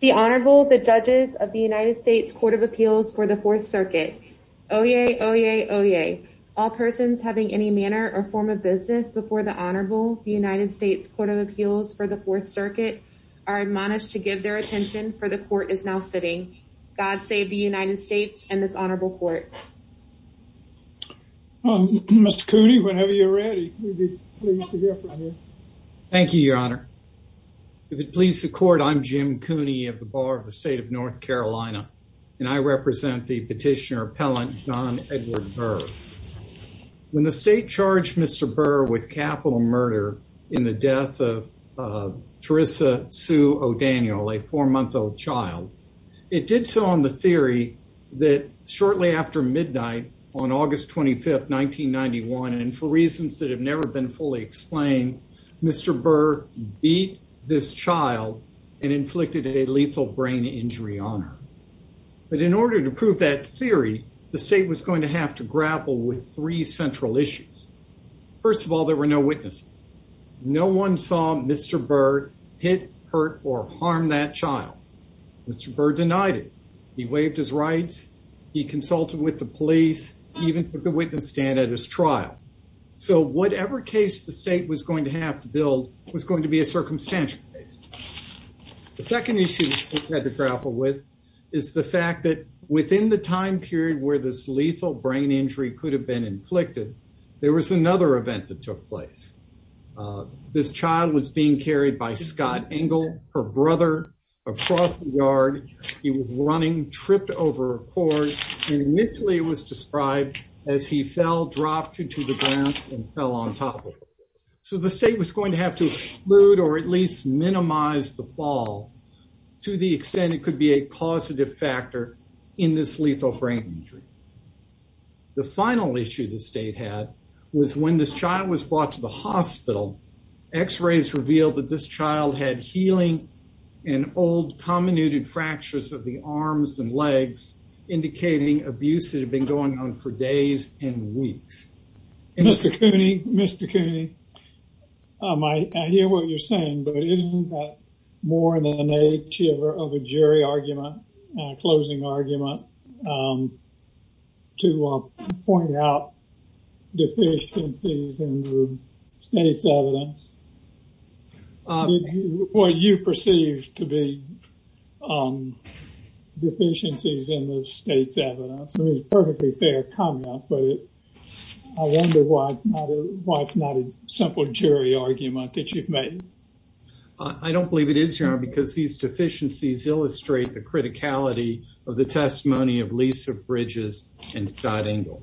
The Honorable, the Judges of the United States Court of Appeals for the Fourth Circuit. Oyez, oyez, oyez. All persons having any manner or form of business before the Honorable, the United States Court of Appeals for the Fourth Circuit are admonished to give their attention for the court is now sitting. God save the United States and this honorable court. Mr. Cooney, whenever you're ready. Thank you, Your Honor. If it pleases the court, I'm Jim Cooney of the Bar of the State of North Carolina and I represent the petitioner appellant John Edward Burr. When the state charged Mr. Burr with capital murder in the death of Theresa Sue O'Daniel, a four-month-old child, it did so on the theory that shortly after midnight on August 25th, 1991, and for reasons that have never been fully explained, Mr. Burr beat this child and inflicted a lethal brain injury on her. But in order to prove that theory, the state was going to have to grapple with three central issues. First of all, there were no witnesses. No one saw Mr. Burr hit, hurt, or harm that child. Mr. Burr denied it. He waived his rights. He consulted with the police, even took a witness stand at his trial. So whatever case the state was going to have to build was going to be a circumstantial case. The second issue we had to grapple with is the fact that within the time period where this lethal brain injury could have been inflicted, there was another event that took place. This child was being carried by Scott Engle, her brother, across the yard. He was running, tripped over a cord, and fell on top of her. So the state was going to have to exclude or at least minimize the fall to the extent it could be a positive factor in this lethal brain injury. The final issue the state had was when this child was brought to the hospital, x-rays revealed that this child had healing and old, comminuted fractures of the arms and legs, indicating abuse that had been going on for days and weeks. Mr. Cooney, Mr. Cooney, I hear what you're saying, but isn't that more than an age of a jury argument, a closing argument, to point out deficiencies in the state's evidence? What you perceive to be deficiencies in the state's evidence, is a perfectly fair comment, but I wonder why it's not a simple jury argument that you've made. I don't believe it is, Your Honor, because these deficiencies illustrate the criticality of the testimony of Lisa Bridges and Scott Engle,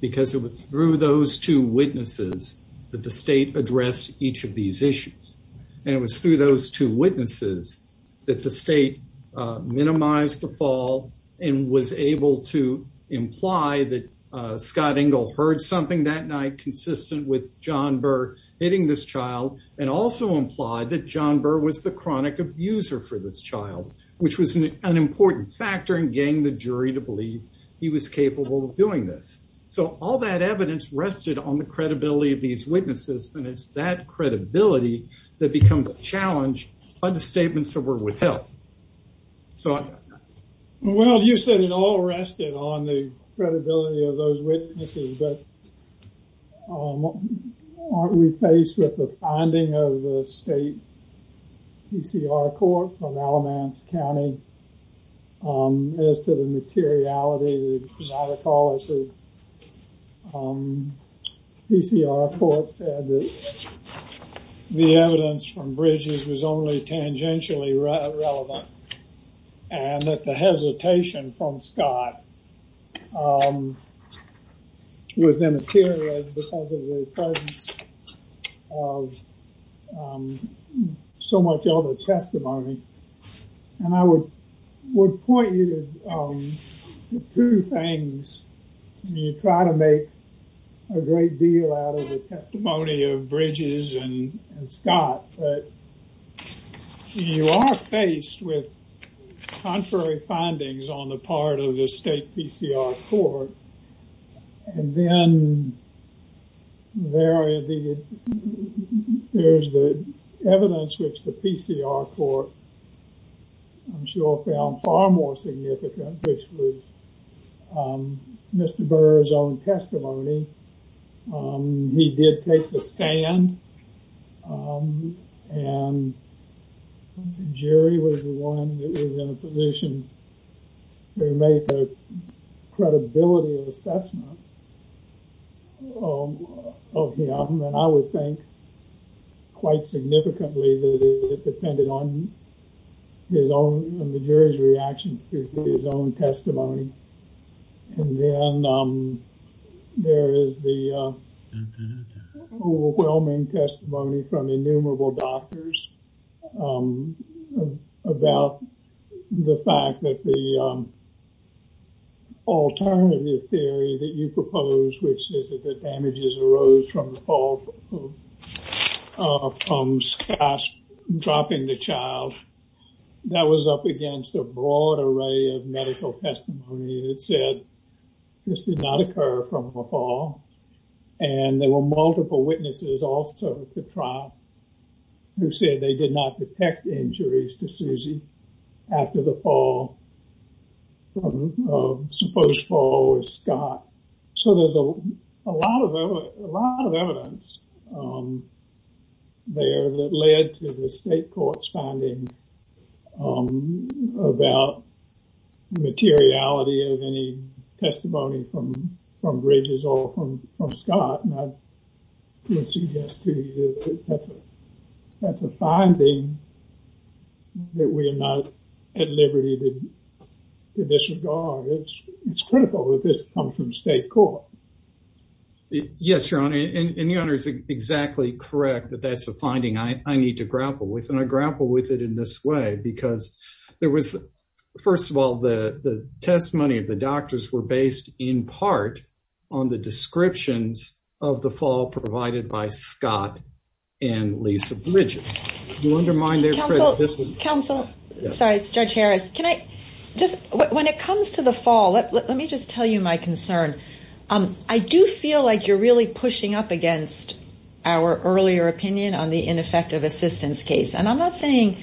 because it was through those two witnesses that the state addressed each of these issues. And it was through those two witnesses that the state minimized the fall and was able to imply that Scott Engle heard something that night consistent with John Burr hitting this child, and also implied that John Burr was the chronic abuser for this child, which was an important factor in getting the jury to believe he was capable of doing this. So all that evidence rested on the credibility of these witnesses, and it's that sort of thing. Well, you said it all rested on the credibility of those witnesses, but aren't we faced with the finding of the state PCR court from Alamance County as to the materiality, the chronicology? PCR court said that the evidence from Bridges was only tangentially relevant, and that the hesitation from Scott was immaterial because of the presence of so much other testimony. And I would point you to two things. You try to make a great deal out of the testimony of Bridges and Scott, but you are faced with contrary findings on the part of the state PCR court. And then there is the evidence which the PCR court, I'm sure, found far more significant, which was Mr. Burr's own testimony. He did take the stand, and the jury was the one that was in a position to make a credibility assessment of him, and I would think quite significantly that it depended on the jury's reaction to his own testimony. And then there is the overwhelming testimony from innumerable doctors about the fact that the alternative theory that you propose, which is that the damages arose from the fall from Scott dropping the child, that was up against a broad array of medical testimony that said this did not occur from the fall. And there were multiple witnesses also to trial who said they did not detect injuries to a lot of evidence there that led to the state court's finding about materiality of any testimony from Bridges or from Scott. And I would suggest to you that's a finding that we are not at liberty to disregard. It's critical that this comes from state court. Yes, Your Honor, and Your Honor is exactly correct that that's a finding I need to grapple with, and I grapple with it in this way because there was, first of all, the testimony of the doctors were based in part on the descriptions of the fall provided by Scott and Lisa Bridges. Counsel, sorry, it's Judge Harris. When it comes to the fall, let me just tell you my concern. I do feel like you're really pushing up against our earlier opinion on the ineffective assistance case. And I'm not saying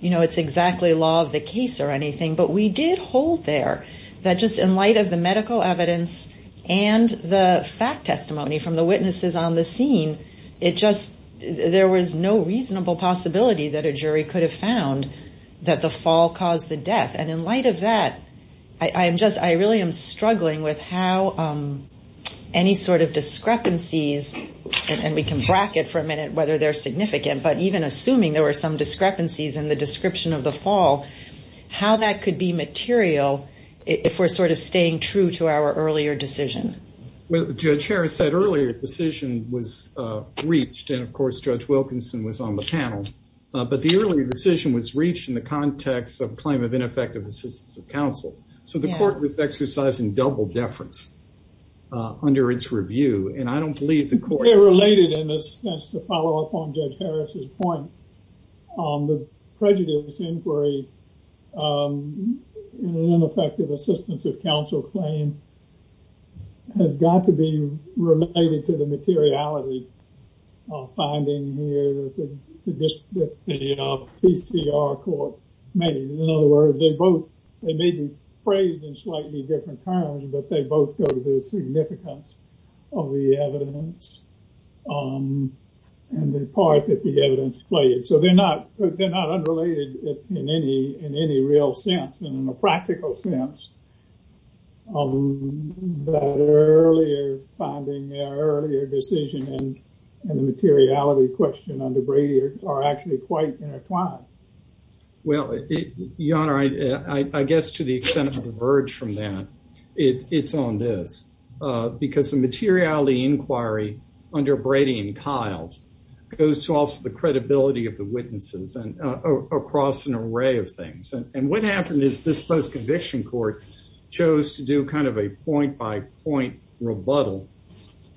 it's exactly law of the case or anything, but we did hold there that just in light of the medical evidence and the fact testimony from the witnesses on the scene, there was no reasonable possibility that a jury could have found that the fall caused the death. And in light of that, I really am struggling with how any sort of discrepancies, and we can bracket for a minute whether they're significant, but even assuming there were some discrepancies in the description of the fall, how that could be material if we're sort of staying true to our earlier decision. Well, Judge Harris said earlier decision was reached, and of course, Judge Wilkinson was on the panel. But the earlier decision was reached in the context of claim of ineffective assistance of counsel. So the court was exercising double deference under its review, and I don't believe the court- Related in a sense to follow up on Judge Harris's point on the prejudice inquiry, ineffective assistance of counsel claim has got to be related to the materiality finding here that the PCR court made. In other words, they both, they may be phrased in slightly different terms, but they both go to the significance of the evidence and the part that the evidence played. So they're not unrelated in any real sense, and in a practical sense, that earlier finding, earlier decision, and the materiality question under Brady are actually quite intertwined. Well, Your Honor, I guess to the extent I can diverge from that, it's on this. Because the materiality inquiry under Brady and Kiles goes to the credibility of the witnesses and across an array of things. And what happened is this post-conviction court chose to do kind of a point-by-point rebuttal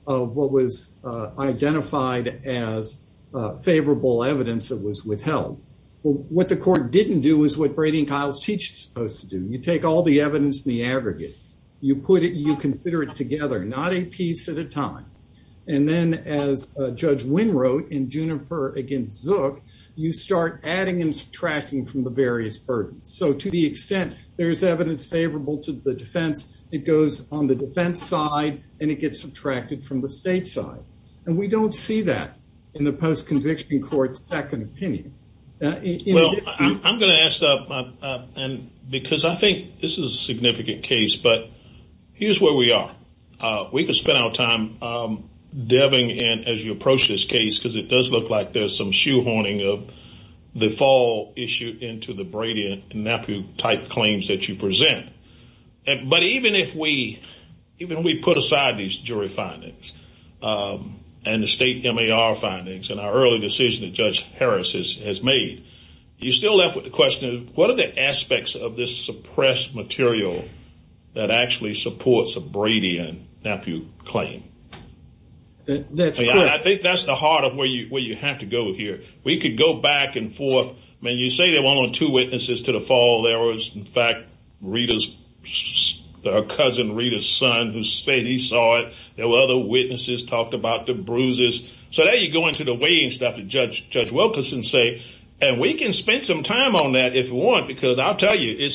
of what was identified as favorable evidence that was withheld. What the court didn't do is what Brady and Kiles teach it's supposed to do. You take all the evidence in the aggregate, you put it, you consider it together, not a piece at a time. And then as Judge Wynn wrote in Juniper against Zook, you start adding and subtracting from the various burdens. So to the extent there's evidence favorable to the defense, it goes on the defense side and it gets subtracted from the state side. And we don't see that in the post-conviction court's second opinion. Well, I'm going to ask that because I think this is we could spend our time diving in as you approach this case because it does look like there's some shoehorning of the fall issue into the Brady and Napu type claims that you present. But even if we put aside these jury findings and the state MAR findings and our early decision that Judge Harris has made, you're still left with the question of what are the aspects of this claim? I think that's the heart of where you have to go here. We could go back and forth. I mean, you say there were only two witnesses to the fall. There was, in fact, Rita's cousin, Rita's son, who said he saw it. There were other witnesses talked about the bruises. So there you go into the weighing stuff that Judge Wilkerson say. And we can spend some time on that if you want, because I'll tell you,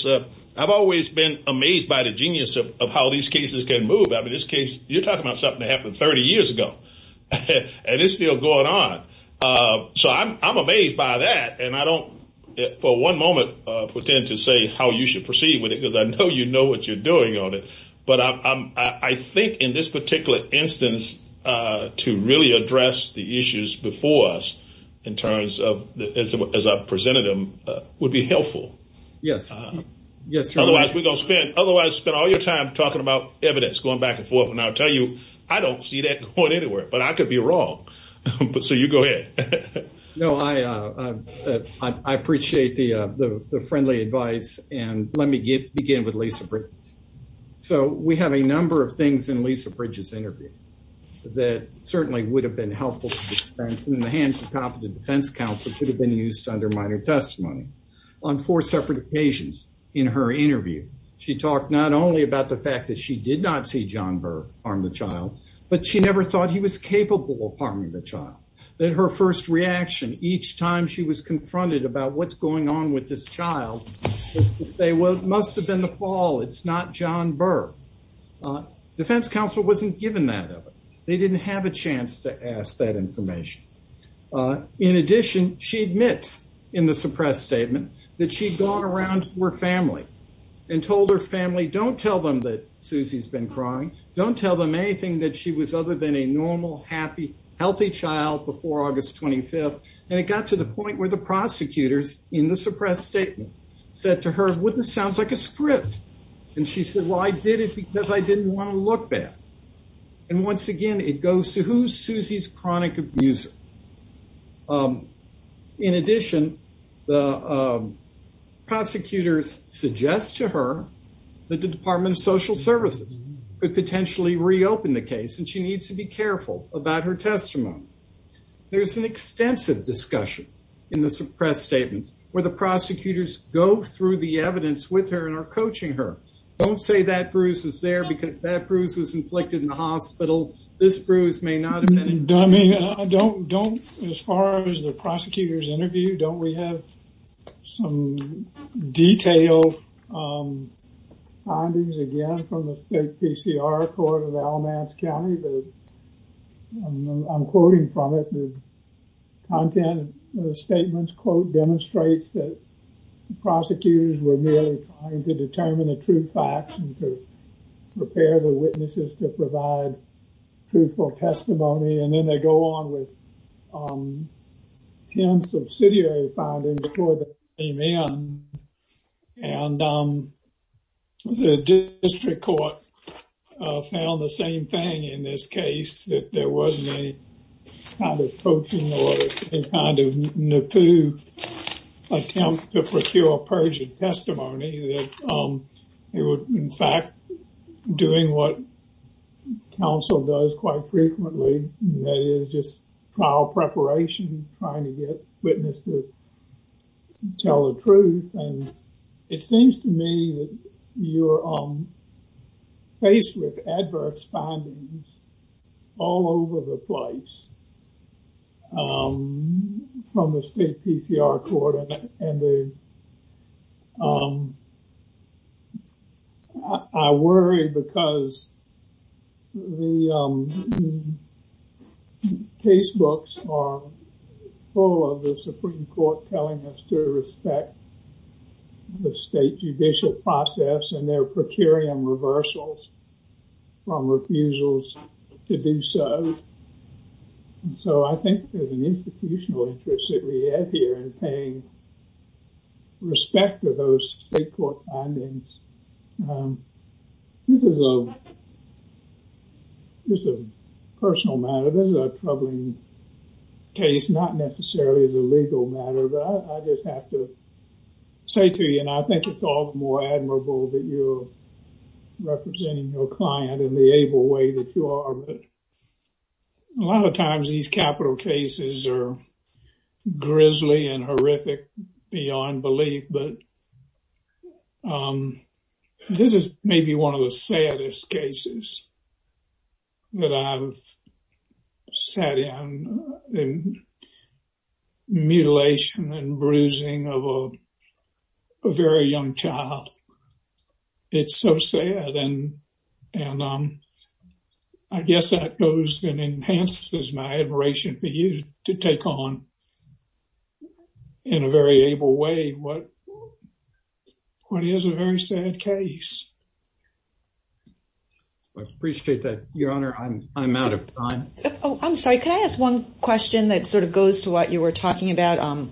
I've always been amazed by the genius of how these cases can move. I mean, you're talking about something that happened 30 years ago and it's still going on. So I'm amazed by that. And I don't, for one moment, pretend to say how you should proceed with it because I know you know what you're doing on it. But I think in this particular instance, to really address the issues before us in terms of as I presented them would be helpful. Yes. Yes. Otherwise, spend all your time talking about evidence, going back and forth. And I'll tell you, I don't see that going anywhere, but I could be wrong. So you go ahead. No, I appreciate the friendly advice. And let me begin with Lisa Bridges. So we have a number of things in Lisa Bridges' interview that certainly would have been helpful. And in the hands of competent defense counsel could have been used under minor testimony on four separate occasions in her interview. She talked not only about the fact that she did not see John Burr harm the child, but she never thought he was capable of harming the child. That her first reaction each time she was confronted about what's going on with this child, they would must have been the fall. It's not John Burr. Defense counsel wasn't given that evidence. They didn't have a chance to ask that and told her family, don't tell them that Susie's been crying. Don't tell them anything that she was other than a normal, happy, healthy child before August 25th. And it got to the point where the prosecutors in the suppressed statement said to her, wouldn't sounds like a script. And she said, well, I did it because I didn't want to look bad. And once again, it goes to who's Susie's prosecutor. Prosecutors suggest to her that the Department of Social Services could potentially reopen the case. And she needs to be careful about her testimony. There's an extensive discussion in the suppressed statements where the prosecutors go through the evidence with her and are coaching her. Don't say that bruise was there because that bruise was inflicted in the hospital. This bruise may not have been. I mean, I don't, don't as far as the prosecutors interview, don't we have some detailed findings again from the state PCR court of Alamance County, but I'm quoting from it. The content of the statements quote demonstrates that prosecutors were merely trying to determine the true facts and to prepare the witnesses to provide truthful testimony. And then they go on with 10 subsidiary findings before they came in. And the district court found the same thing in this case that there wasn't any kind of coaching or any kind of natural attempt to procure a perjured testimony that it would, in fact, doing what counsel does quite frequently, that is just trial preparation, trying to get witness to tell the truth. And it seems to me that you're faced with adverse findings all over the place from the state PCR court. And I worry because the case books are full of the Supreme Court telling us to respect the state judicial process and their procurium reversals from refusals to do so. And so I think there's an institutional interest that we have here in paying respect to those state court findings. This is a personal matter. This is a troubling case, not necessarily as a legal matter, but I just have to say to you, and I think it's all the more admirable that you're a lot of times these capital cases are grisly and horrific beyond belief, but this is maybe one of the saddest cases that I've sat in, the mutilation and bruising of a very young child. It's so sad. And I guess that goes and enhances my admiration for you to take on in a very able way what is a very sad case. I appreciate that. Your Honor, I'm out of time. Oh, I'm sorry. Can I ask one question that sort of goes to what you were talking about?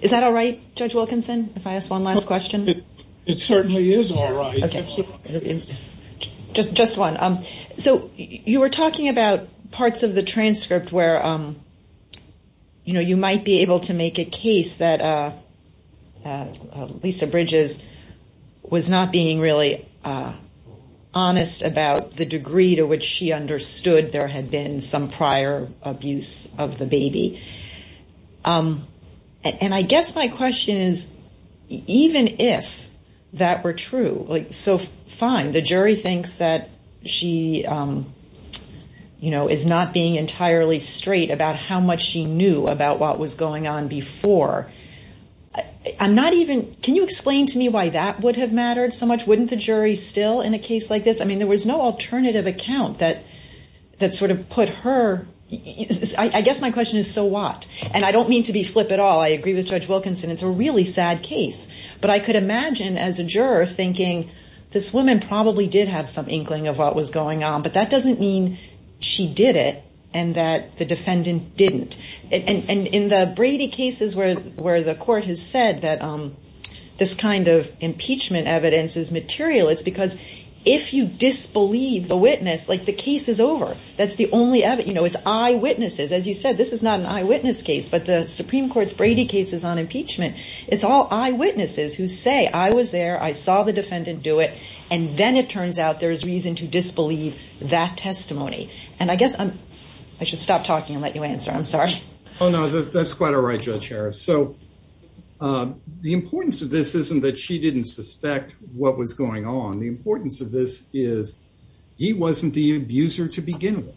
Is that all right, Judge Wilkinson, if I ask one last question? It certainly is all right. Just one. So you were talking about parts of the transcript where you might be able to make a case that Lisa Bridges was not being really honest about the degree to which she understood there had been some prior abuse of the baby. And I guess my question is, even if that were true, fine, the jury thinks that she is not being entirely straight about how much she knew about what was going on before. I'm not even, can you explain to me why that would have mattered so much? Wouldn't the jury still in a case like this? I mean, there was no alternative account that sort of put her, I guess my question is so what? And I don't mean to be flip at all. I agree with Judge Wilkinson. It's a really sad case, but I could imagine as a juror thinking this woman probably did have some inkling of what was going on, but that doesn't mean she did it and that the in the Brady cases where the court has said that this kind of impeachment evidence is material, it's because if you disbelieve the witness, like the case is over, that's the only evidence, it's eyewitnesses. As you said, this is not an eyewitness case, but the Supreme Court's Brady cases on impeachment, it's all eyewitnesses who say, I was there, I saw the defendant do it. And then it turns out there's reason to disbelieve that testimony. And I guess I should stop talking and let you answer. I'm sorry. Oh, no, that's quite all right, Judge Harris. So the importance of this isn't that she didn't suspect what was going on. The importance of this is he wasn't the abuser to begin with.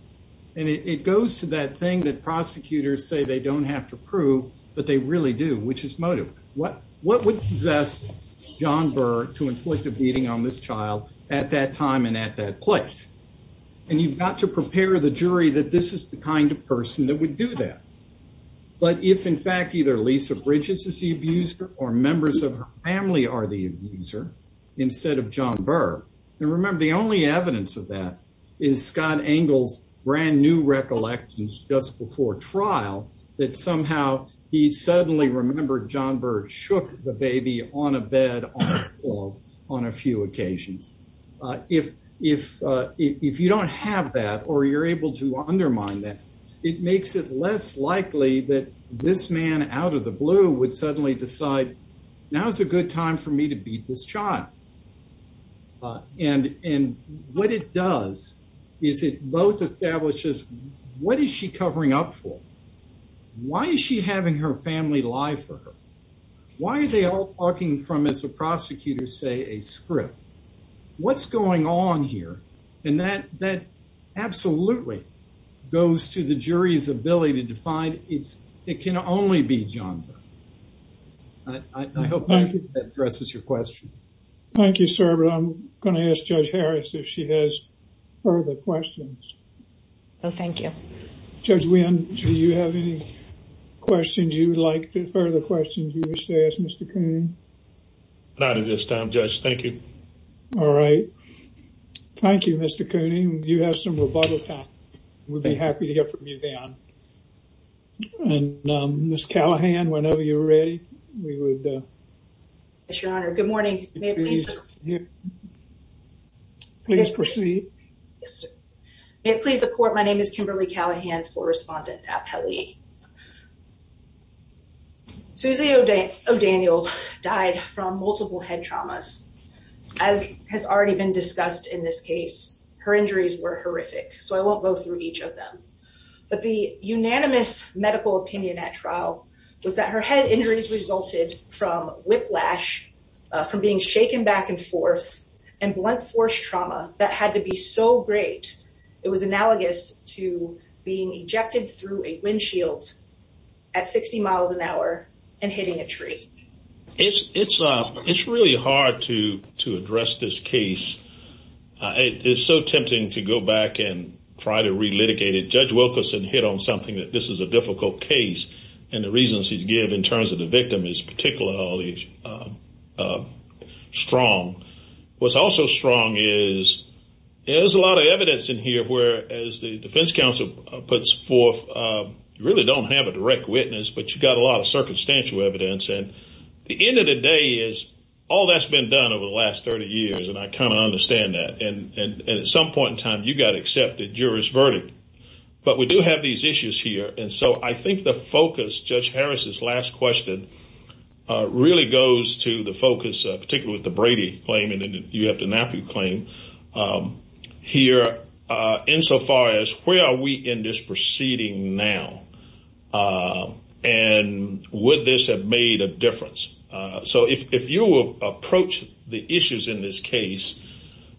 And it goes to that thing that prosecutors say they don't have to prove, but they really do, which is motive. What would possess John Burr to inflict a beating on this child at that time and at that place? And you've got to prepare the jury that this is the kind of person that would do that. But if, in fact, either Lisa Bridges is the abuser or members of her family are the abuser, instead of John Burr, and remember, the only evidence of that is Scott Engel's brand new recollections just before trial, that somehow he suddenly remembered John Burr shook the baby on a bed on a few occasions. If you don't have that, or you're able to undermine that, it makes it less likely that this man out of the blue would suddenly decide, now's a good time for me to beat this child. And what it does is it both establishes what is she covering up for? Why is she having her family lie for her? Why are they all talking from, as the prosecutors say, a script? What's going on here? And that absolutely goes to the jury's ability to find. It can only be John Burr. I hope that addresses your question. Thank you, sir. But I'm going to ask Judge Harris if she has further questions. Oh, thank you. Judge Wynn, do you have any questions you would like, further questions you wish to ask Mr. Cooney? Not at this time, Judge. Thank you. All right. Thank you, Mr. Cooney. You have some rebuttal time. We'd be happy to hear from you then. And Ms. Callahan, whenever you're ready, we would... Yes, Your Honor. Good morning. Please proceed. May it please the court, my name is Kimberly Callahan, floor respondent at Pelley. Susie O'Daniel died from multiple head traumas. As has already been discussed in this case, her injuries were horrific, so I won't go through each of them. But the unanimous medical opinion at trial was that her head injuries resulted from whiplash, from being shaken back and forth, and blunt force trauma that had to be so great, it was analogous to being ejected through a windshield at 60 miles an hour and hitting a tree. It's really hard to address this case. It's so tempting to go back and try to relitigate it. Judge Wilkerson hit on something that this is a difficult case, and the reasons he's given in terms of the victim is particularly strong. What's also strong is there's a lot of evidence in here where, as the defense counsel puts forth, you really don't have a direct witness, but you've got a lot of circumstantial evidence. And the end of the day is, all that's been done over the last 30 years, and I kind of understand that. And at some point in time, you got to accept the juror's verdict. But we do have these issues here, and so I think the focus, Judge Harris's last question, really goes to the focus, particularly with the Brady claim, and you have the NAPU claim, here, insofar as where are we in this proceeding now? And would this have made a difference? So if you will approach the issues in this case,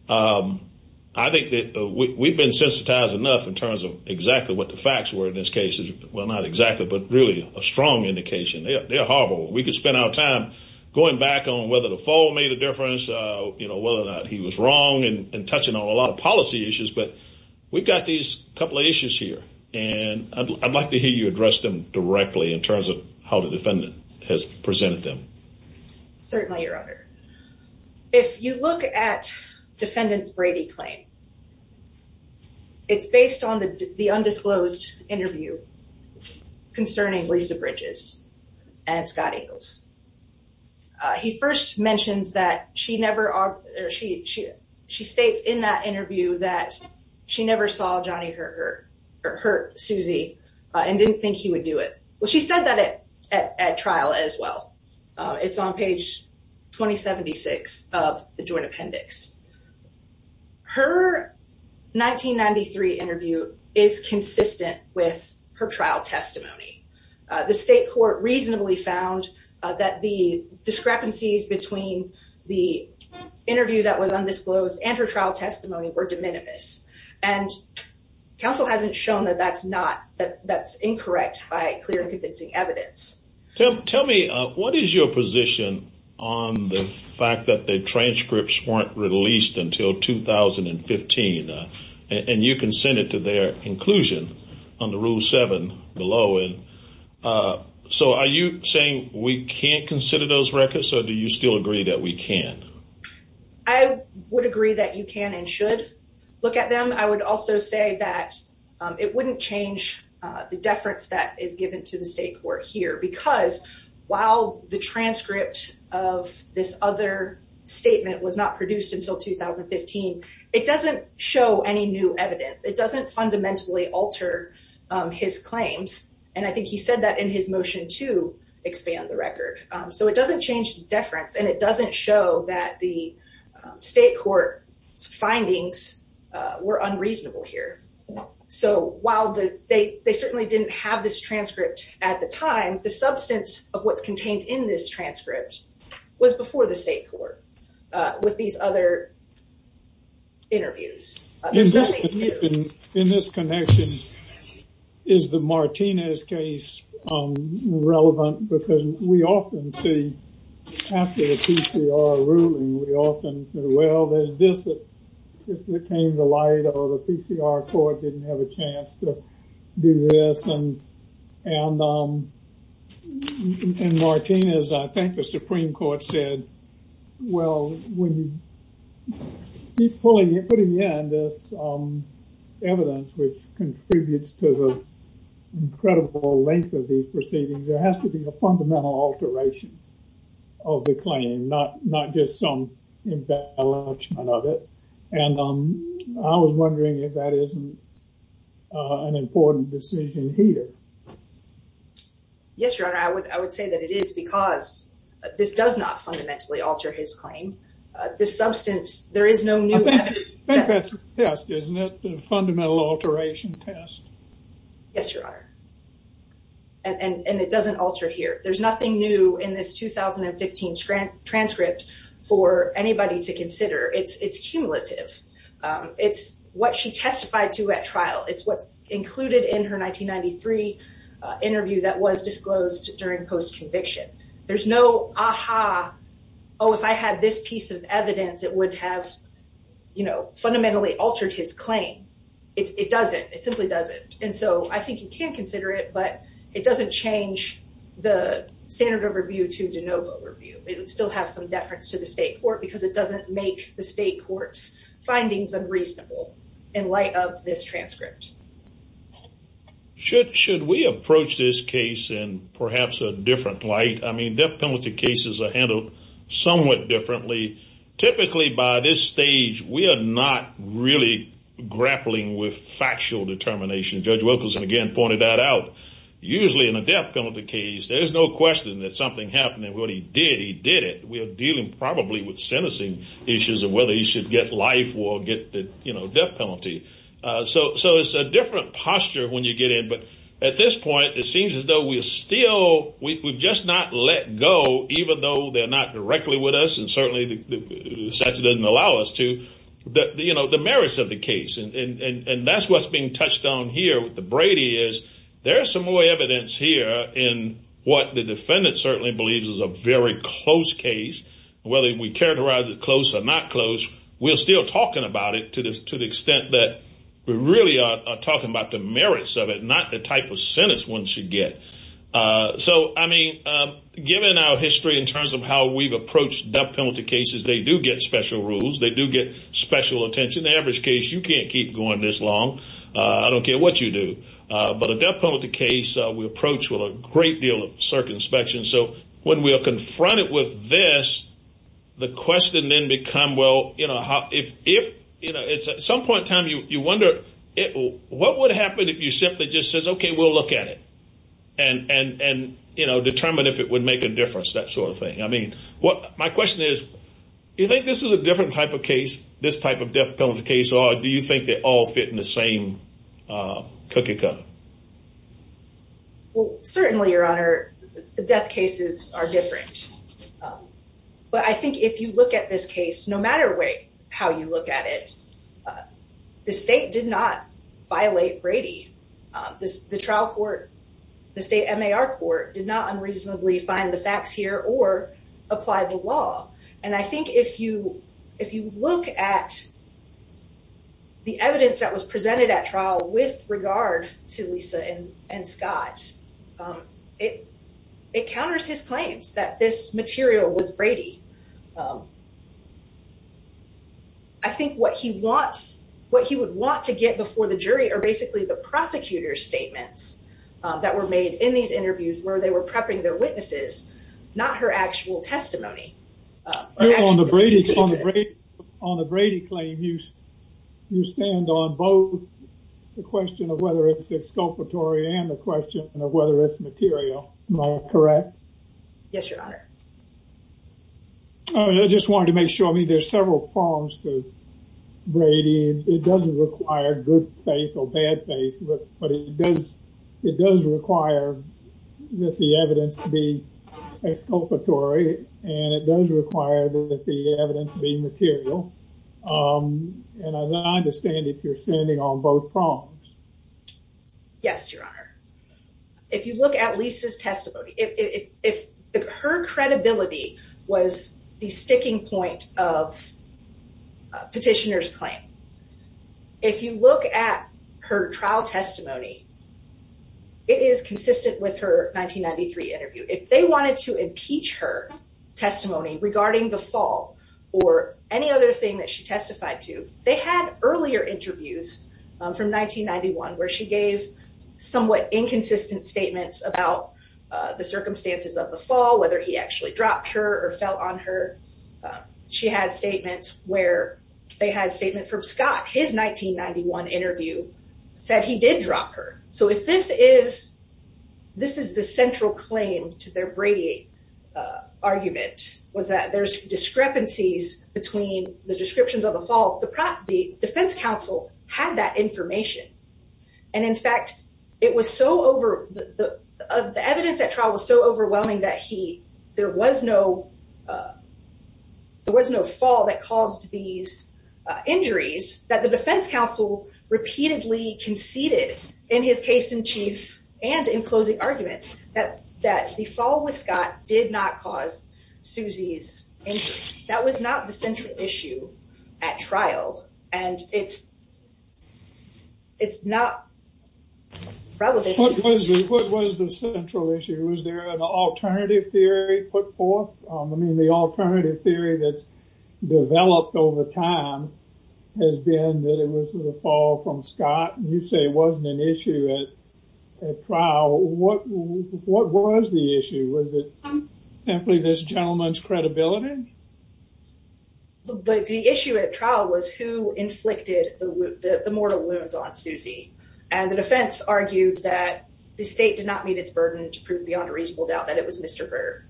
I think that we've been sensitized enough in terms of exactly what the facts were in this case. Well, not exactly, but really a strong indication. They're horrible. We could spend our time going back on whether the fall made a difference, whether or not he was wrong, and touching on a lot of policy issues, but we've got these couple of issues here, and I'd like to hear you address them directly in terms of how the defendant has presented them. Certainly, Your Honor. If you look at defendant's Brady claim, it's based on the undisclosed interview concerning Lisa Bridges and Scott Ingles. He first mentions that she states in that interview that she never saw Johnny hurt Susie, and didn't think he would do it. Well, she said that at trial as well. It's on page 2076 of the joint appendix. Her 1993 interview is consistent with her trial testimony. The state reasonably found that the discrepancies between the interview that was undisclosed and her trial testimony were de minimis, and counsel hasn't shown that that's incorrect by clear and convincing evidence. Tell me, what is your position on the fact that the transcripts weren't released until 2015, and you can send it to their inclusion on the Rule 7 below. So, are you saying we can't consider those records, or do you still agree that we can? I would agree that you can and should look at them. I would also say that it wouldn't change the deference that is given to the state court here, because while the transcript of this other statement was not produced until 2015, it doesn't show any new evidence. It doesn't fundamentally alter his claims, and I think he said that in his motion to expand the record. So, it doesn't change the deference, and it doesn't show that the state court's findings were unreasonable here. So, while they certainly didn't have this transcript at the time, the substance of what's contained in this transcript was before the state court with these other interviews. In this connection, is the Martinez case relevant? Because we often see after the PCR ruling, we often say, well, there's this that came to light, or the PCR court didn't have a chance to do this, and Martinez, I think the Supreme Court said, well, when you keep putting in this evidence which contributes to the incredible length of these proceedings, there has to be a fundamental alteration of the claim, not just some embellishment of it, and I was wondering if that isn't an important decision here. Yes, Your Honor, I would say that it is, because this does not fundamentally alter his claim. This substance, there is no new evidence. I think that's a test, isn't it? A fundamental alteration test. Yes, Your Honor, and it doesn't alter here. There's nothing new in this 2015 transcript for anybody to consider. It's cumulative. It's what she testified to at trial. It's what's included in her 1993 interview that was disclosed during post conviction. There's no aha, oh, if I had this piece of evidence, it would have fundamentally altered his claim. It doesn't. It simply doesn't, and so I think you can consider it, but it doesn't change the standard of review to de novo review. It would still have some deference to the state court because it doesn't make the state court's findings unreasonable in light of this transcript. Should we approach this case in perhaps a different light? I mean, death penalty cases are handled somewhat differently. Typically by this stage, we are not really grappling with there's no question that something happened and what he did, he did it. We are dealing probably with sentencing issues and whether he should get life or get the death penalty. So it's a different posture when you get in. But at this point, it seems as though we're still, we've just not let go, even though they're not directly with us. And certainly the statute doesn't allow us to the merits of the case. And that's what's being touched on here with the Brady is there's some evidence here in what the defendant certainly believes is a very close case. Whether we characterize it close or not close, we're still talking about it to the extent that we really are talking about the merits of it, not the type of sentence one should get. So I mean, given our history in terms of how we've approached death penalty cases, they do get special rules. They do get special attention. The average case, you can't keep going this long. I don't care what you do. But a death penalty case we approach with a great deal of circumspection. So when we are confronted with this, the question then become, well, you know, if it's at some point in time, you wonder what would happen if you simply just says, OK, we'll look at it and determine if it would make a difference, that sort of thing. I mean, what my question is, you think this is a different type of case, this type of death penalty case, or do you think they all fit in the same cup? Well, certainly, Your Honor, the death cases are different. But I think if you look at this case, no matter how you look at it, the state did not violate Brady. The trial court, the state MAR court did not unreasonably find the facts here or apply the law. And I think if you look at the evidence that was presented at trial with regard to Lisa and Scott, it counters his claims that this material was Brady. I think what he wants, what he would want to get before the jury are basically the prosecutor's statements that were made in these interviews where they were prepping their witnesses, not her actual testimony. Your Honor, on the Brady claim, you stand on both the question of whether it's exculpatory and the question of whether it's material. Am I correct? Yes, Your Honor. I just wanted to make sure, I mean, there's several prongs to Brady. It doesn't require good faith or bad faith, but it does require that the evidence be exculpatory and it does require that the evidence be material. And I understand if you're standing on both prongs. Yes, Your Honor. If you look at Lisa's testimony, if her credibility was the sticking point of petitioner's claim. If you look at her trial testimony, it is consistent with her 1993 interview. If they wanted to impeach her testimony regarding the fall or any other thing that she testified to, they had earlier interviews from 1991 where she gave somewhat inconsistent statements about the circumstances of the fall, whether he actually dropped her or fell on her. She had statements where they had statement from Scott. His 1991 interview said he did drop her. So, if this is the central claim to their Brady argument, was that there's discrepancies between the descriptions of the fall, the defense counsel had that information. And in fact, the evidence at trial was so overwhelming that there was no that caused these injuries that the defense counsel repeatedly conceded in his case in chief and in closing argument that the fall with Scott did not cause Susie's injury. That was not the central issue at trial. And it's not relevant. What was the central issue? Was there an alternative theory put forth? I mean, the alternative theory that's developed over time has been that it was the fall from Scott. You say it wasn't an issue at trial. What was the issue? Was it simply this gentleman's credibility? But the issue at trial was who inflicted the mortal wounds on Susie. And the defense argued that the state did not meet its burden to prove beyond a reasonable doubt that it was Mr. Burr.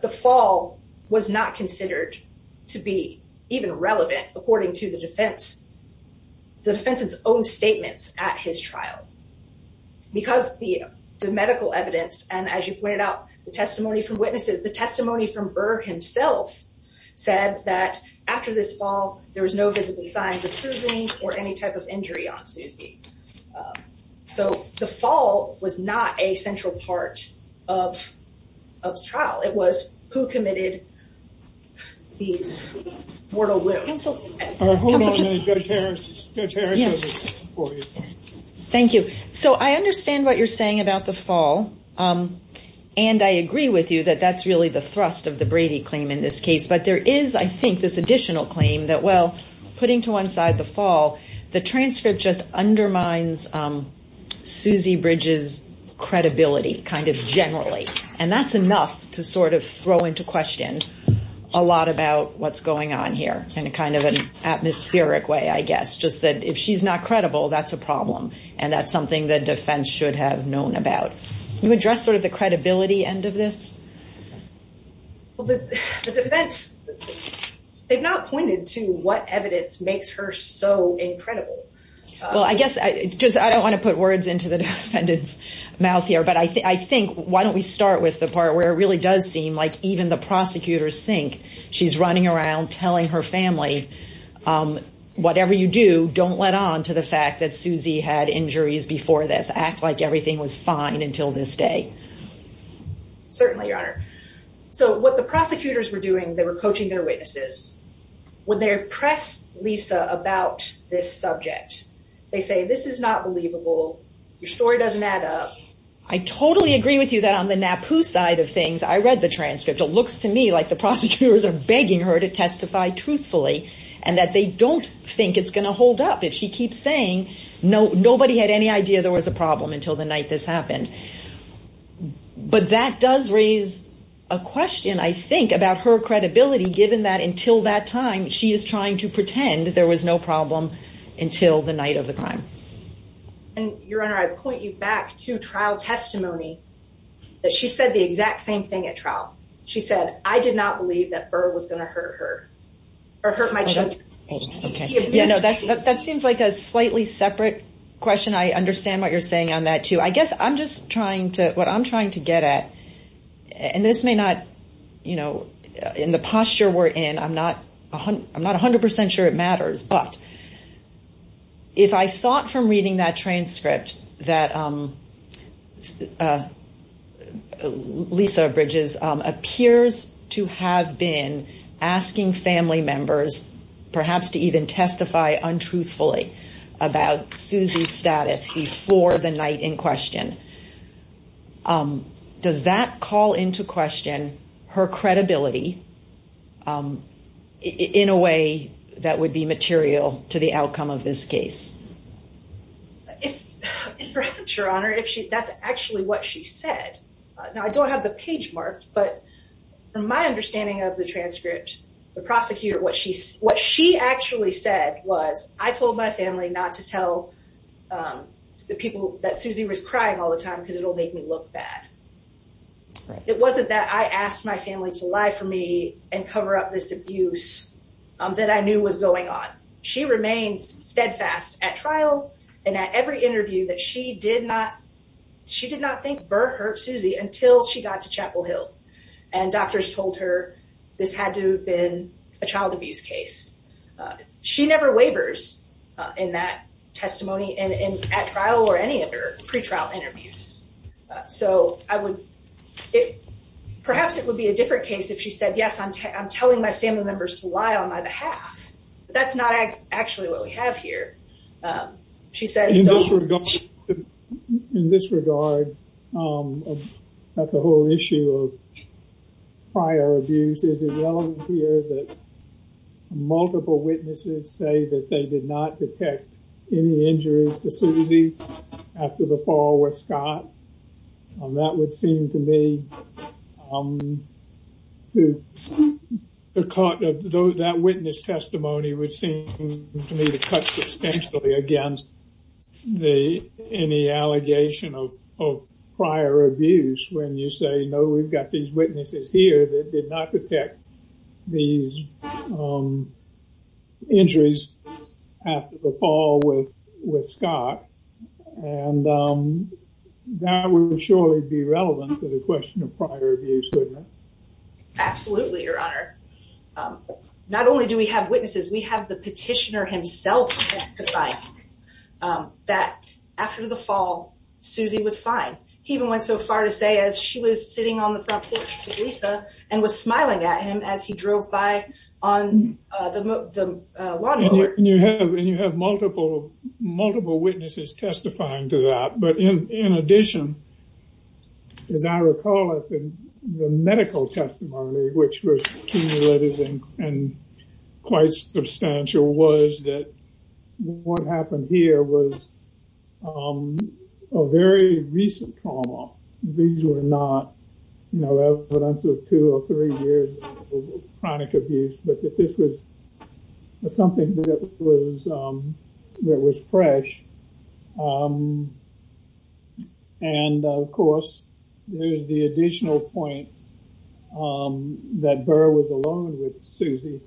The fall was not considered to be even relevant according to the defense. The defense's own statements at his trial. Because the medical evidence and as you pointed out, the testimony from witnesses, the testimony from Burr himself said that after this fall, there was no visible signs of bruising or any type of injury on Susie. So, the fall was not a central part of the trial. It was who committed these mortal wounds. Thank you. So, I understand what you're saying about the fall. And I agree with you that that's really the thrust of the Brady claim in this case. But there is, I think, this additional claim that, putting to one side the fall, the transcript just undermines Susie Bridges' credibility, kind of generally. And that's enough to sort of throw into question a lot about what's going on here in a kind of an atmospheric way, I guess. Just that if she's not credible, that's a problem. And that's something that defense should have known about. You address sort of the credibility end of this? The defense, they've not pointed to what evidence makes her so incredible. Well, I guess, I don't want to put words into the defendant's mouth here. But I think, why don't we start with the part where it really does seem like even the prosecutors think she's running around telling her family, whatever you do, don't let on to the fact that Susie had injuries before this. Act like everything was fine until this day. Certainly, Your Honor. So what the prosecutors were doing, they were coaching their witnesses. When they press Lisa about this subject, they say, this is not believable. Your story doesn't add up. I totally agree with you that on the NAPU side of things, I read the transcript. It looks to me like the prosecutors are begging her to testify truthfully, and that they don't think it's going to hold up if she keeps saying nobody had any idea there was a problem until the night this happened. But that does raise a question, I think, about her credibility, given that until that time, she is trying to pretend there was no problem until the night of the crime. And, Your Honor, I point you back to trial testimony, that she said the exact same thing at trial. She said, I did not believe that Burr was going to hurt her or hurt my children. Okay. Yeah, no, that seems like a slightly separate question. I understand what you're saying on that, too. I guess I'm just trying to, what I'm trying to get at, and this may not, you know, in the posture we're in, I'm not 100 percent sure it matters, but if I thought from reading that transcript that Lisa Bridges appears to have been asking family members perhaps to even testify untruthfully about Susie's status before the night in question, does that call into question her credibility in a way that would be material to the outcome of this case? If, perhaps, Your Honor, if she, that's actually what she said. Now, I don't have the page marked, but from my understanding of the transcript, the prosecutor, what she actually said was, I told my family not to tell the people that Susie was crying all the time because it'll make me look bad. It wasn't that I asked my family to lie for me and cover up this abuse that I knew was going on. She remains steadfast at trial and at every interview that she did not, she did not think and doctors told her this had to have been a child abuse case. She never waivers in that testimony and at trial or any other pre-trial interviews. So, I would, perhaps it would be a different case if she said, yes, I'm telling my family members to lie on my behalf, but that's actually what we have here. She says- In this regard, in this regard, about the whole issue of prior abuse, is it relevant here that multiple witnesses say that they did not detect any injuries to Susie after the fall with Scott? That would seem to me, to the court, that witness testimony would seem to me to cut substantially against the, any allegation of prior abuse when you say, no, we've got these witnesses here that did not detect these injuries after the fall with Scott and that would surely be relevant to the question of prior abuse, wouldn't it? Absolutely, your honor. Not only do we have witnesses, we have the petitioner himself testifying that after the fall Susie was fine. He even went so far to say as she was sitting on the front porch with Lisa and was smiling at him as he drove by on the lawnmower. And you have, and you have multiple, multiple witnesses testifying to that, but in, in addition, as I recall in the medical testimony, which was cumulative and quite substantial was that what happened here was a very recent trauma. These were not, you know, evidence of two or three years of chronic abuse, but that this was something that was, that was fresh. And of course, there's the additional point that Burr was alone with Susie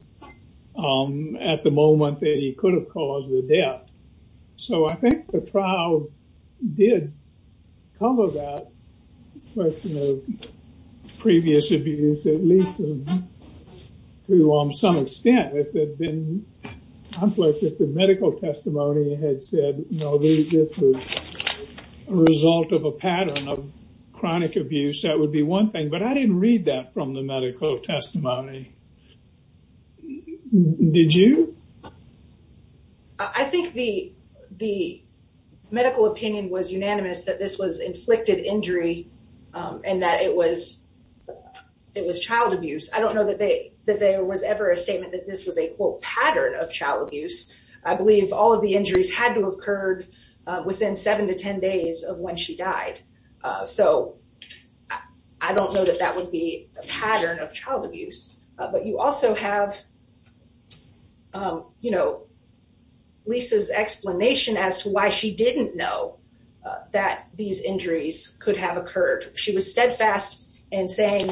at the moment that he could have caused the death. So, I think the trial did cover that question of previous abuse, at least to some extent, if it had been, I'm glad that the medical testimony had said, no, this was a result of a pattern of chronic abuse. That would be one thing, but I didn't read that from the medical testimony. Did you? I think the, the medical opinion was unanimous that this was inflicted injury and that it was, it was child abuse. I don't know that they, that there was ever a statement that this was a quote pattern of child abuse. I believe all of the injuries had to have occurred within seven to 10 days of when she died. So, I don't know that that would be a pattern of child abuse, but you also have, you know, Lisa's explanation as to why she didn't know that these injuries could have occurred. She was steadfast in saying,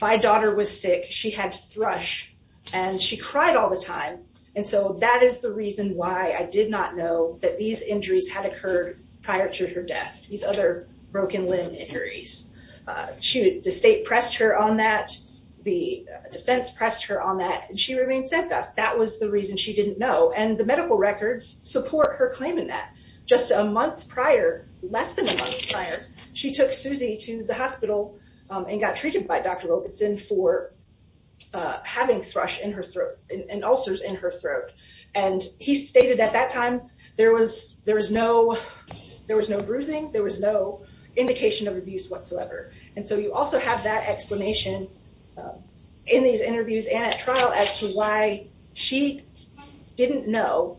my daughter was sick, she had thrush, and she cried all the time. And so, that is the reason why I did not know that these injuries had occurred prior to her death, these other broken limb injuries. The state pressed her on that, the defense pressed her on that, and she remained steadfast. That was the reason she didn't know. And the medical records support her claim in that. Just a month prior, less than a month prior, she took Susie to the hospital and got treated by Dr. Robeson for having thrush in her throat, and ulcers in her throat. And he stated at that time, there was, there was no, there was no bruising, there was no indication of abuse whatsoever. And so, you also have that explanation in these interviews and at trial as to why she didn't know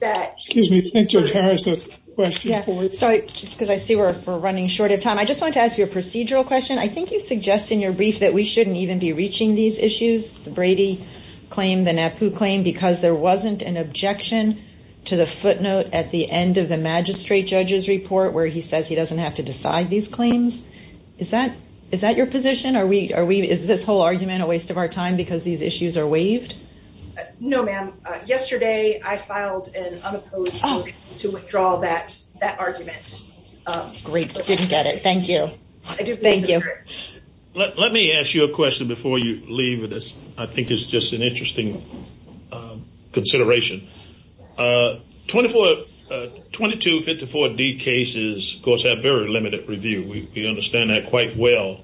that. Excuse me, I think Judge Harris has a question for you. Sorry, just because I see we're running short of time. I just wanted to ask you a procedural question. I think you suggest in your brief that we shouldn't even be reaching these issues, Brady claim, the NAPU claim, because there wasn't an objection to the footnote at the end of the magistrate judge's report where he says he doesn't have to decide these claims. Is that, is that your position? Are we, are we, is this whole argument a waste of our time because these issues are waived? No, ma'am. Yesterday, I filed an unopposed to withdraw that, that argument. Great, didn't get it. Thank you. Thank you. Let me ask you a question before you leave with this. I think it's just an interesting consideration. Twenty-four, 2254 D cases, of course, have very limited review. We understand that quite well.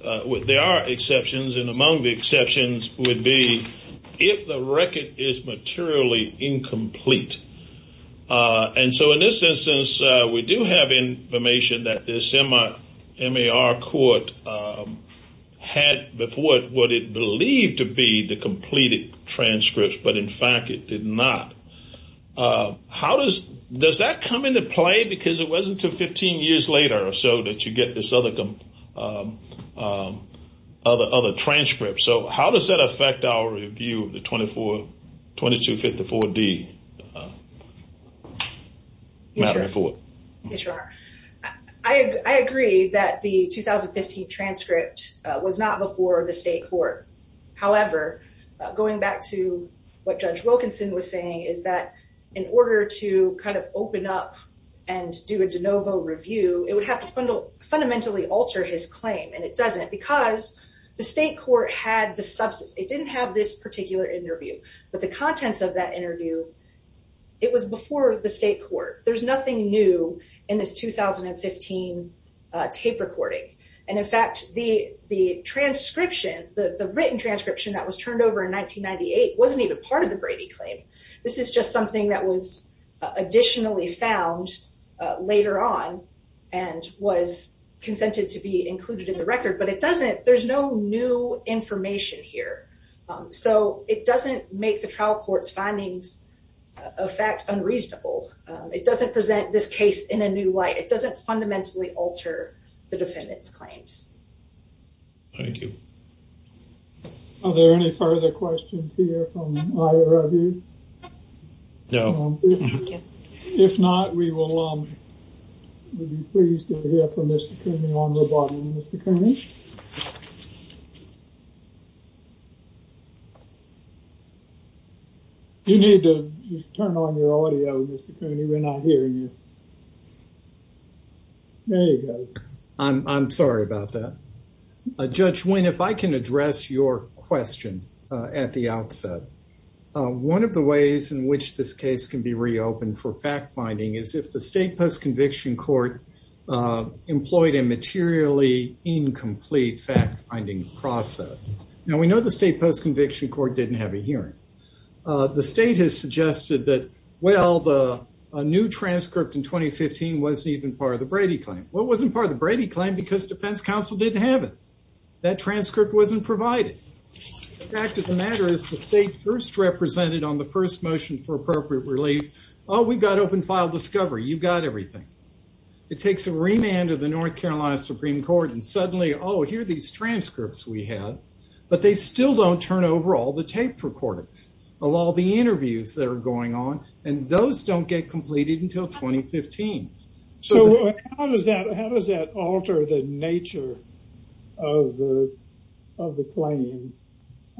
There are exceptions, and among the exceptions would be if the record is materially incomplete. And so, in this instance, we do have information that this in fact, it did not. How does, does that come into play? Because it wasn't until 15 years later or so that you get this other, other, other transcript. So, how does that affect our review of the 24, 2254 D? I agree that the 2015 transcript was not before the state court. However, going back to what Judge Wilkinson was saying is that in order to kind of open up and do a de novo review, it would have to fundamentally alter his claim. And it doesn't because the state court had the substance. It didn't have this particular interview, but the contents of that interview, it was before the state court. There's nothing new in this 2015 tape recording. And in fact, the transcription, the written transcription that was turned over in 1998 wasn't even part of the Brady claim. This is just something that was additionally found later on and was consented to be included in the record. But it doesn't, there's no new information here. So, it doesn't make the trial court's findings of fact unreasonable. It doesn't present this case in a new light. It doesn't fundamentally alter the defendant's claims. Thank you. Are there any further questions here from either of you? No. If not, we will, um, we'll be pleased to hear from Mr. Cooney on the bottom. Mr. Cooney? You need to turn on your audio, Mr. Cooney. We're not hearing you. There you go. I'm sorry about that. Judge Wynne, if I can address your question at the outset. One of the ways in which this case can be reopened for fact finding is if the state post-conviction court employed a materially incomplete fact-finding process. Now, we know the state post-conviction court didn't have a hearing. The state has suggested that, well, the new transcript in 2015 wasn't even part of the Brady claim. Well, it wasn't part of the Brady claim because defense counsel didn't have it. That transcript wasn't provided. The fact of the matter is the state first represented on the first motion for appropriate relief, oh, we've got open file discovery. You've got everything. It takes a remand of the North Carolina Supreme Court and suddenly, oh, here are these transcripts we have, but they still don't turn over all the tape recorders of all the interviews that are going on, and those don't get completed until 2015. So, how does that alter the nature of the claim?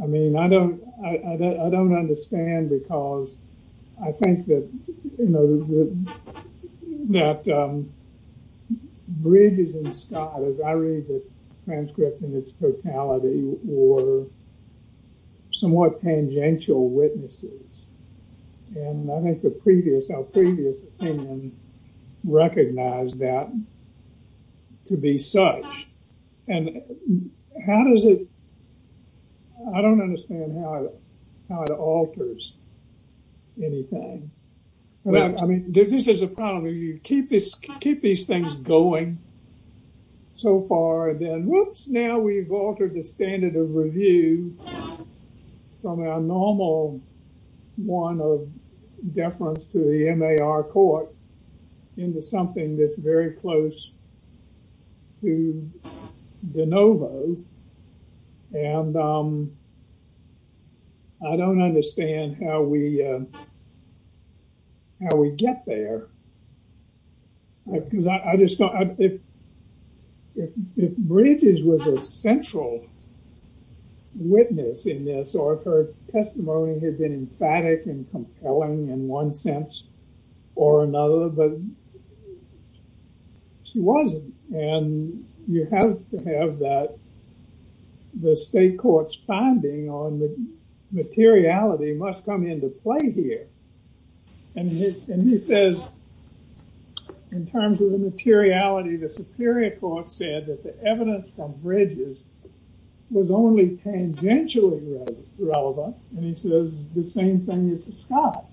I mean, I don't understand because I think that, you know, that Bridges and Scott, as I read the transcript in its totality, were somewhat tangential witnesses, and I think the previous, our previous opinion recognized that to be such, and how does it, I don't understand how it alters anything. I mean, this is a problem. If you keep these things going so far, then whoops, now we've altered the standard of review from our normal one of deference to the MAR court into something that's very close to de novo, and I don't understand how we get there, because I just don't, if Bridges was a central witness in this or if her testimony had been emphatic and compelling in one sense or another, but she wasn't, and you have to have that, the state court's finding on the materiality must come into play here, and he says in terms of the materiality, the superior court said that the evidence from Bridges was only tangentially relevant, and he says the same thing with Scott,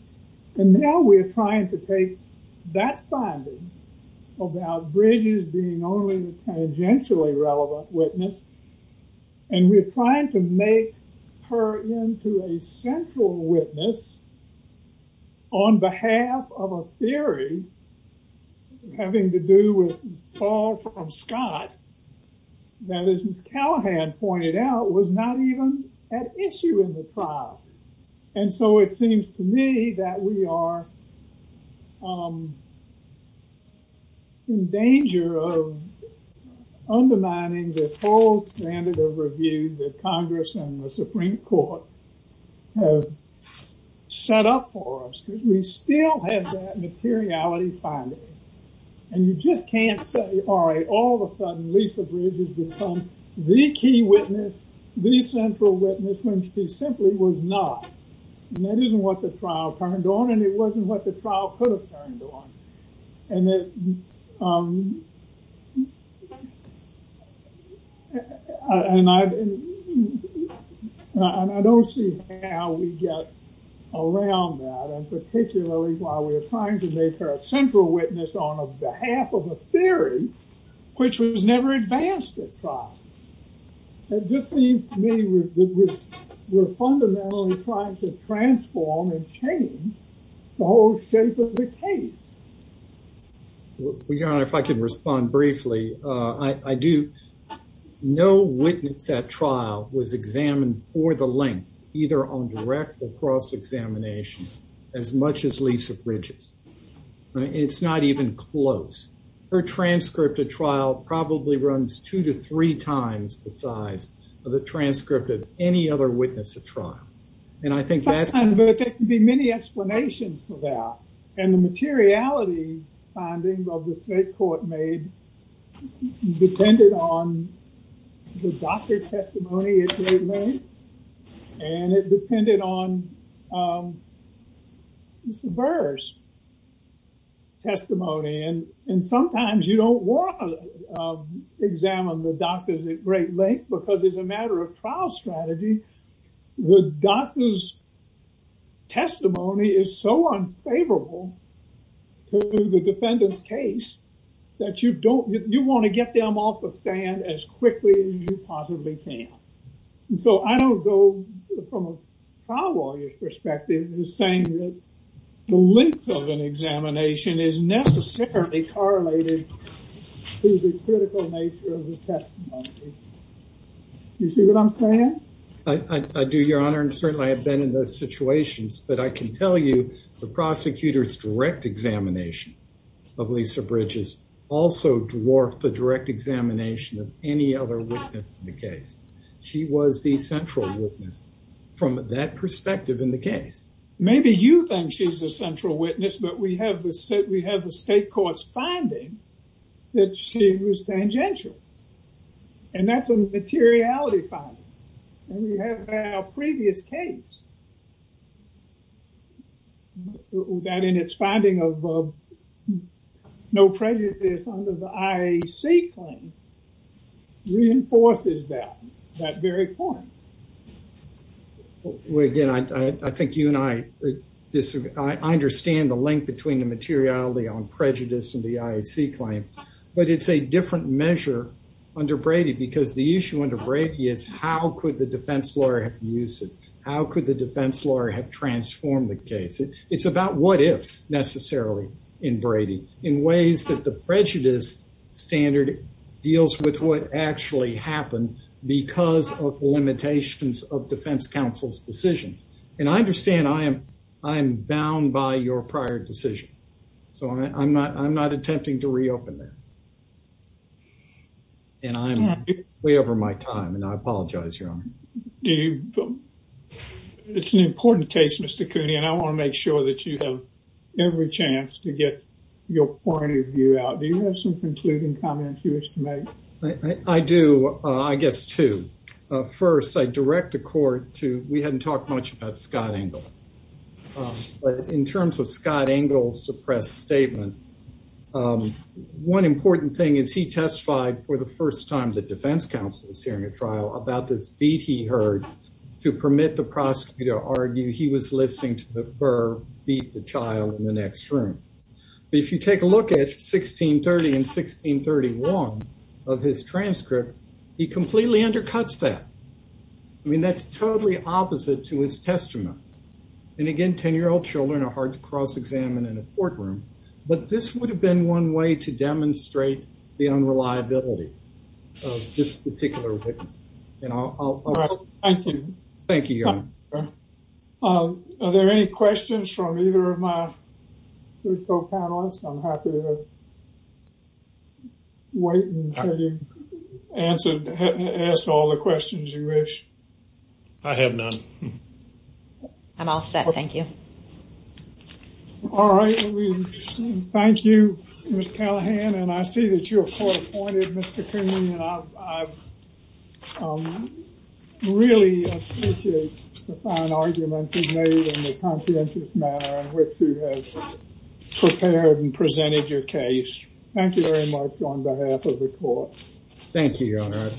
and now we're trying to take that finding about Bridges being only a tangentially relevant witness, and we're trying to make her into a central witness on behalf of a theory having to do with all from Scott that, as Ms. Callahan pointed out, was not even at issue in the trial, and so it seems to me that we are in danger of undermining the whole standard of review that Congress and the Supreme Court have set up for us, because we still have that materiality finding, and you just can't say, all right, all of a sudden Lisa Bridges becomes the key witness, the central witness, when she simply was not, and that isn't what the trial turned on, it wasn't what the trial could have turned on, and I don't see how we get around that, and particularly while we're trying to make her a central witness on behalf of a theory which was never advanced at trial. It just seems to me we're fundamentally trying to transform and maintain the whole shape of the case. Your Honor, if I could respond briefly, no witness at trial was examined for the length, either on direct or cross examination, as much as Lisa Bridges, and it's not even close. Her transcript at trial probably runs two to three times the size of the transcript of any other witness at trial, and I think that can be many explanations for that, and the materiality finding of the state court made depended on the doctor's testimony at great length, and it depended on Mr. Burr's testimony, and sometimes you don't want to examine the doctors at great length, because as a matter of trial strategy, the doctor's testimony is so unfavorable to the defendant's case that you want to get them off the stand as quickly as you possibly can, and so I don't go from a trial lawyer's perspective who's saying that the length of an examination is necessarily correlated to the critical nature of the testimony. Do you see what I'm saying? I do, Your Honor, and certainly I have been in those situations, but I can tell you the prosecutor's direct examination of Lisa Bridges also dwarfed the direct examination of any other witness in the case. She was the central witness from that perspective in the case. Maybe you think she's a central witness, but we have the state court's finding that she was tangential, and that's a materiality finding, and we have our previous case that in its finding of no prejudice under the IAC claim reinforces that very point. Well, again, I think you and I disagree. I understand the link between the materiality on prejudice and the IAC claim, but it's a different measure under Brady because the issue under Brady is how could the defense lawyer have used it? How could the defense lawyer have transformed the case? It's about what ifs necessarily in Brady in ways that the prejudice standard deals with what actually happened because of limitations of defense counsel's decisions, and I understand I am bound by your prior decision, so I'm not attempting to reopen that, and I'm way over my time, and I apologize, Your Honor. It's an important case, Mr. Cooney, and I want to make sure that you have every chance to get your point of view out. Do you have concluding comments you wish to make? I do. I guess two. First, I direct the court to, we hadn't talked much about Scott Engle, but in terms of Scott Engle's suppressed statement, one important thing is he testified for the first time that defense counsel was hearing a trial about this beat he heard to permit the prosecutor to argue he was listening to the burr beat the next room, but if you take a look at 1630 and 1631 of his transcript, he completely undercuts that. I mean, that's totally opposite to his testament, and again, 10-year-old children are hard to cross-examine in a courtroom, but this would have been one way to demonstrate the unreliability of this particular witness. Thank you. Thank you, Your Honor. Are there any questions from either of my co-panelists? I'm happy to wait until you ask all the questions you wish. I have none. I'm all set. Thank you. All right. Thank you, Ms. Callahan, and I see that you're court-appointed, Mr. Cooney, and I wish you had prepared and presented your case. Thank you very much on behalf of the court. Thank you, Your Honor.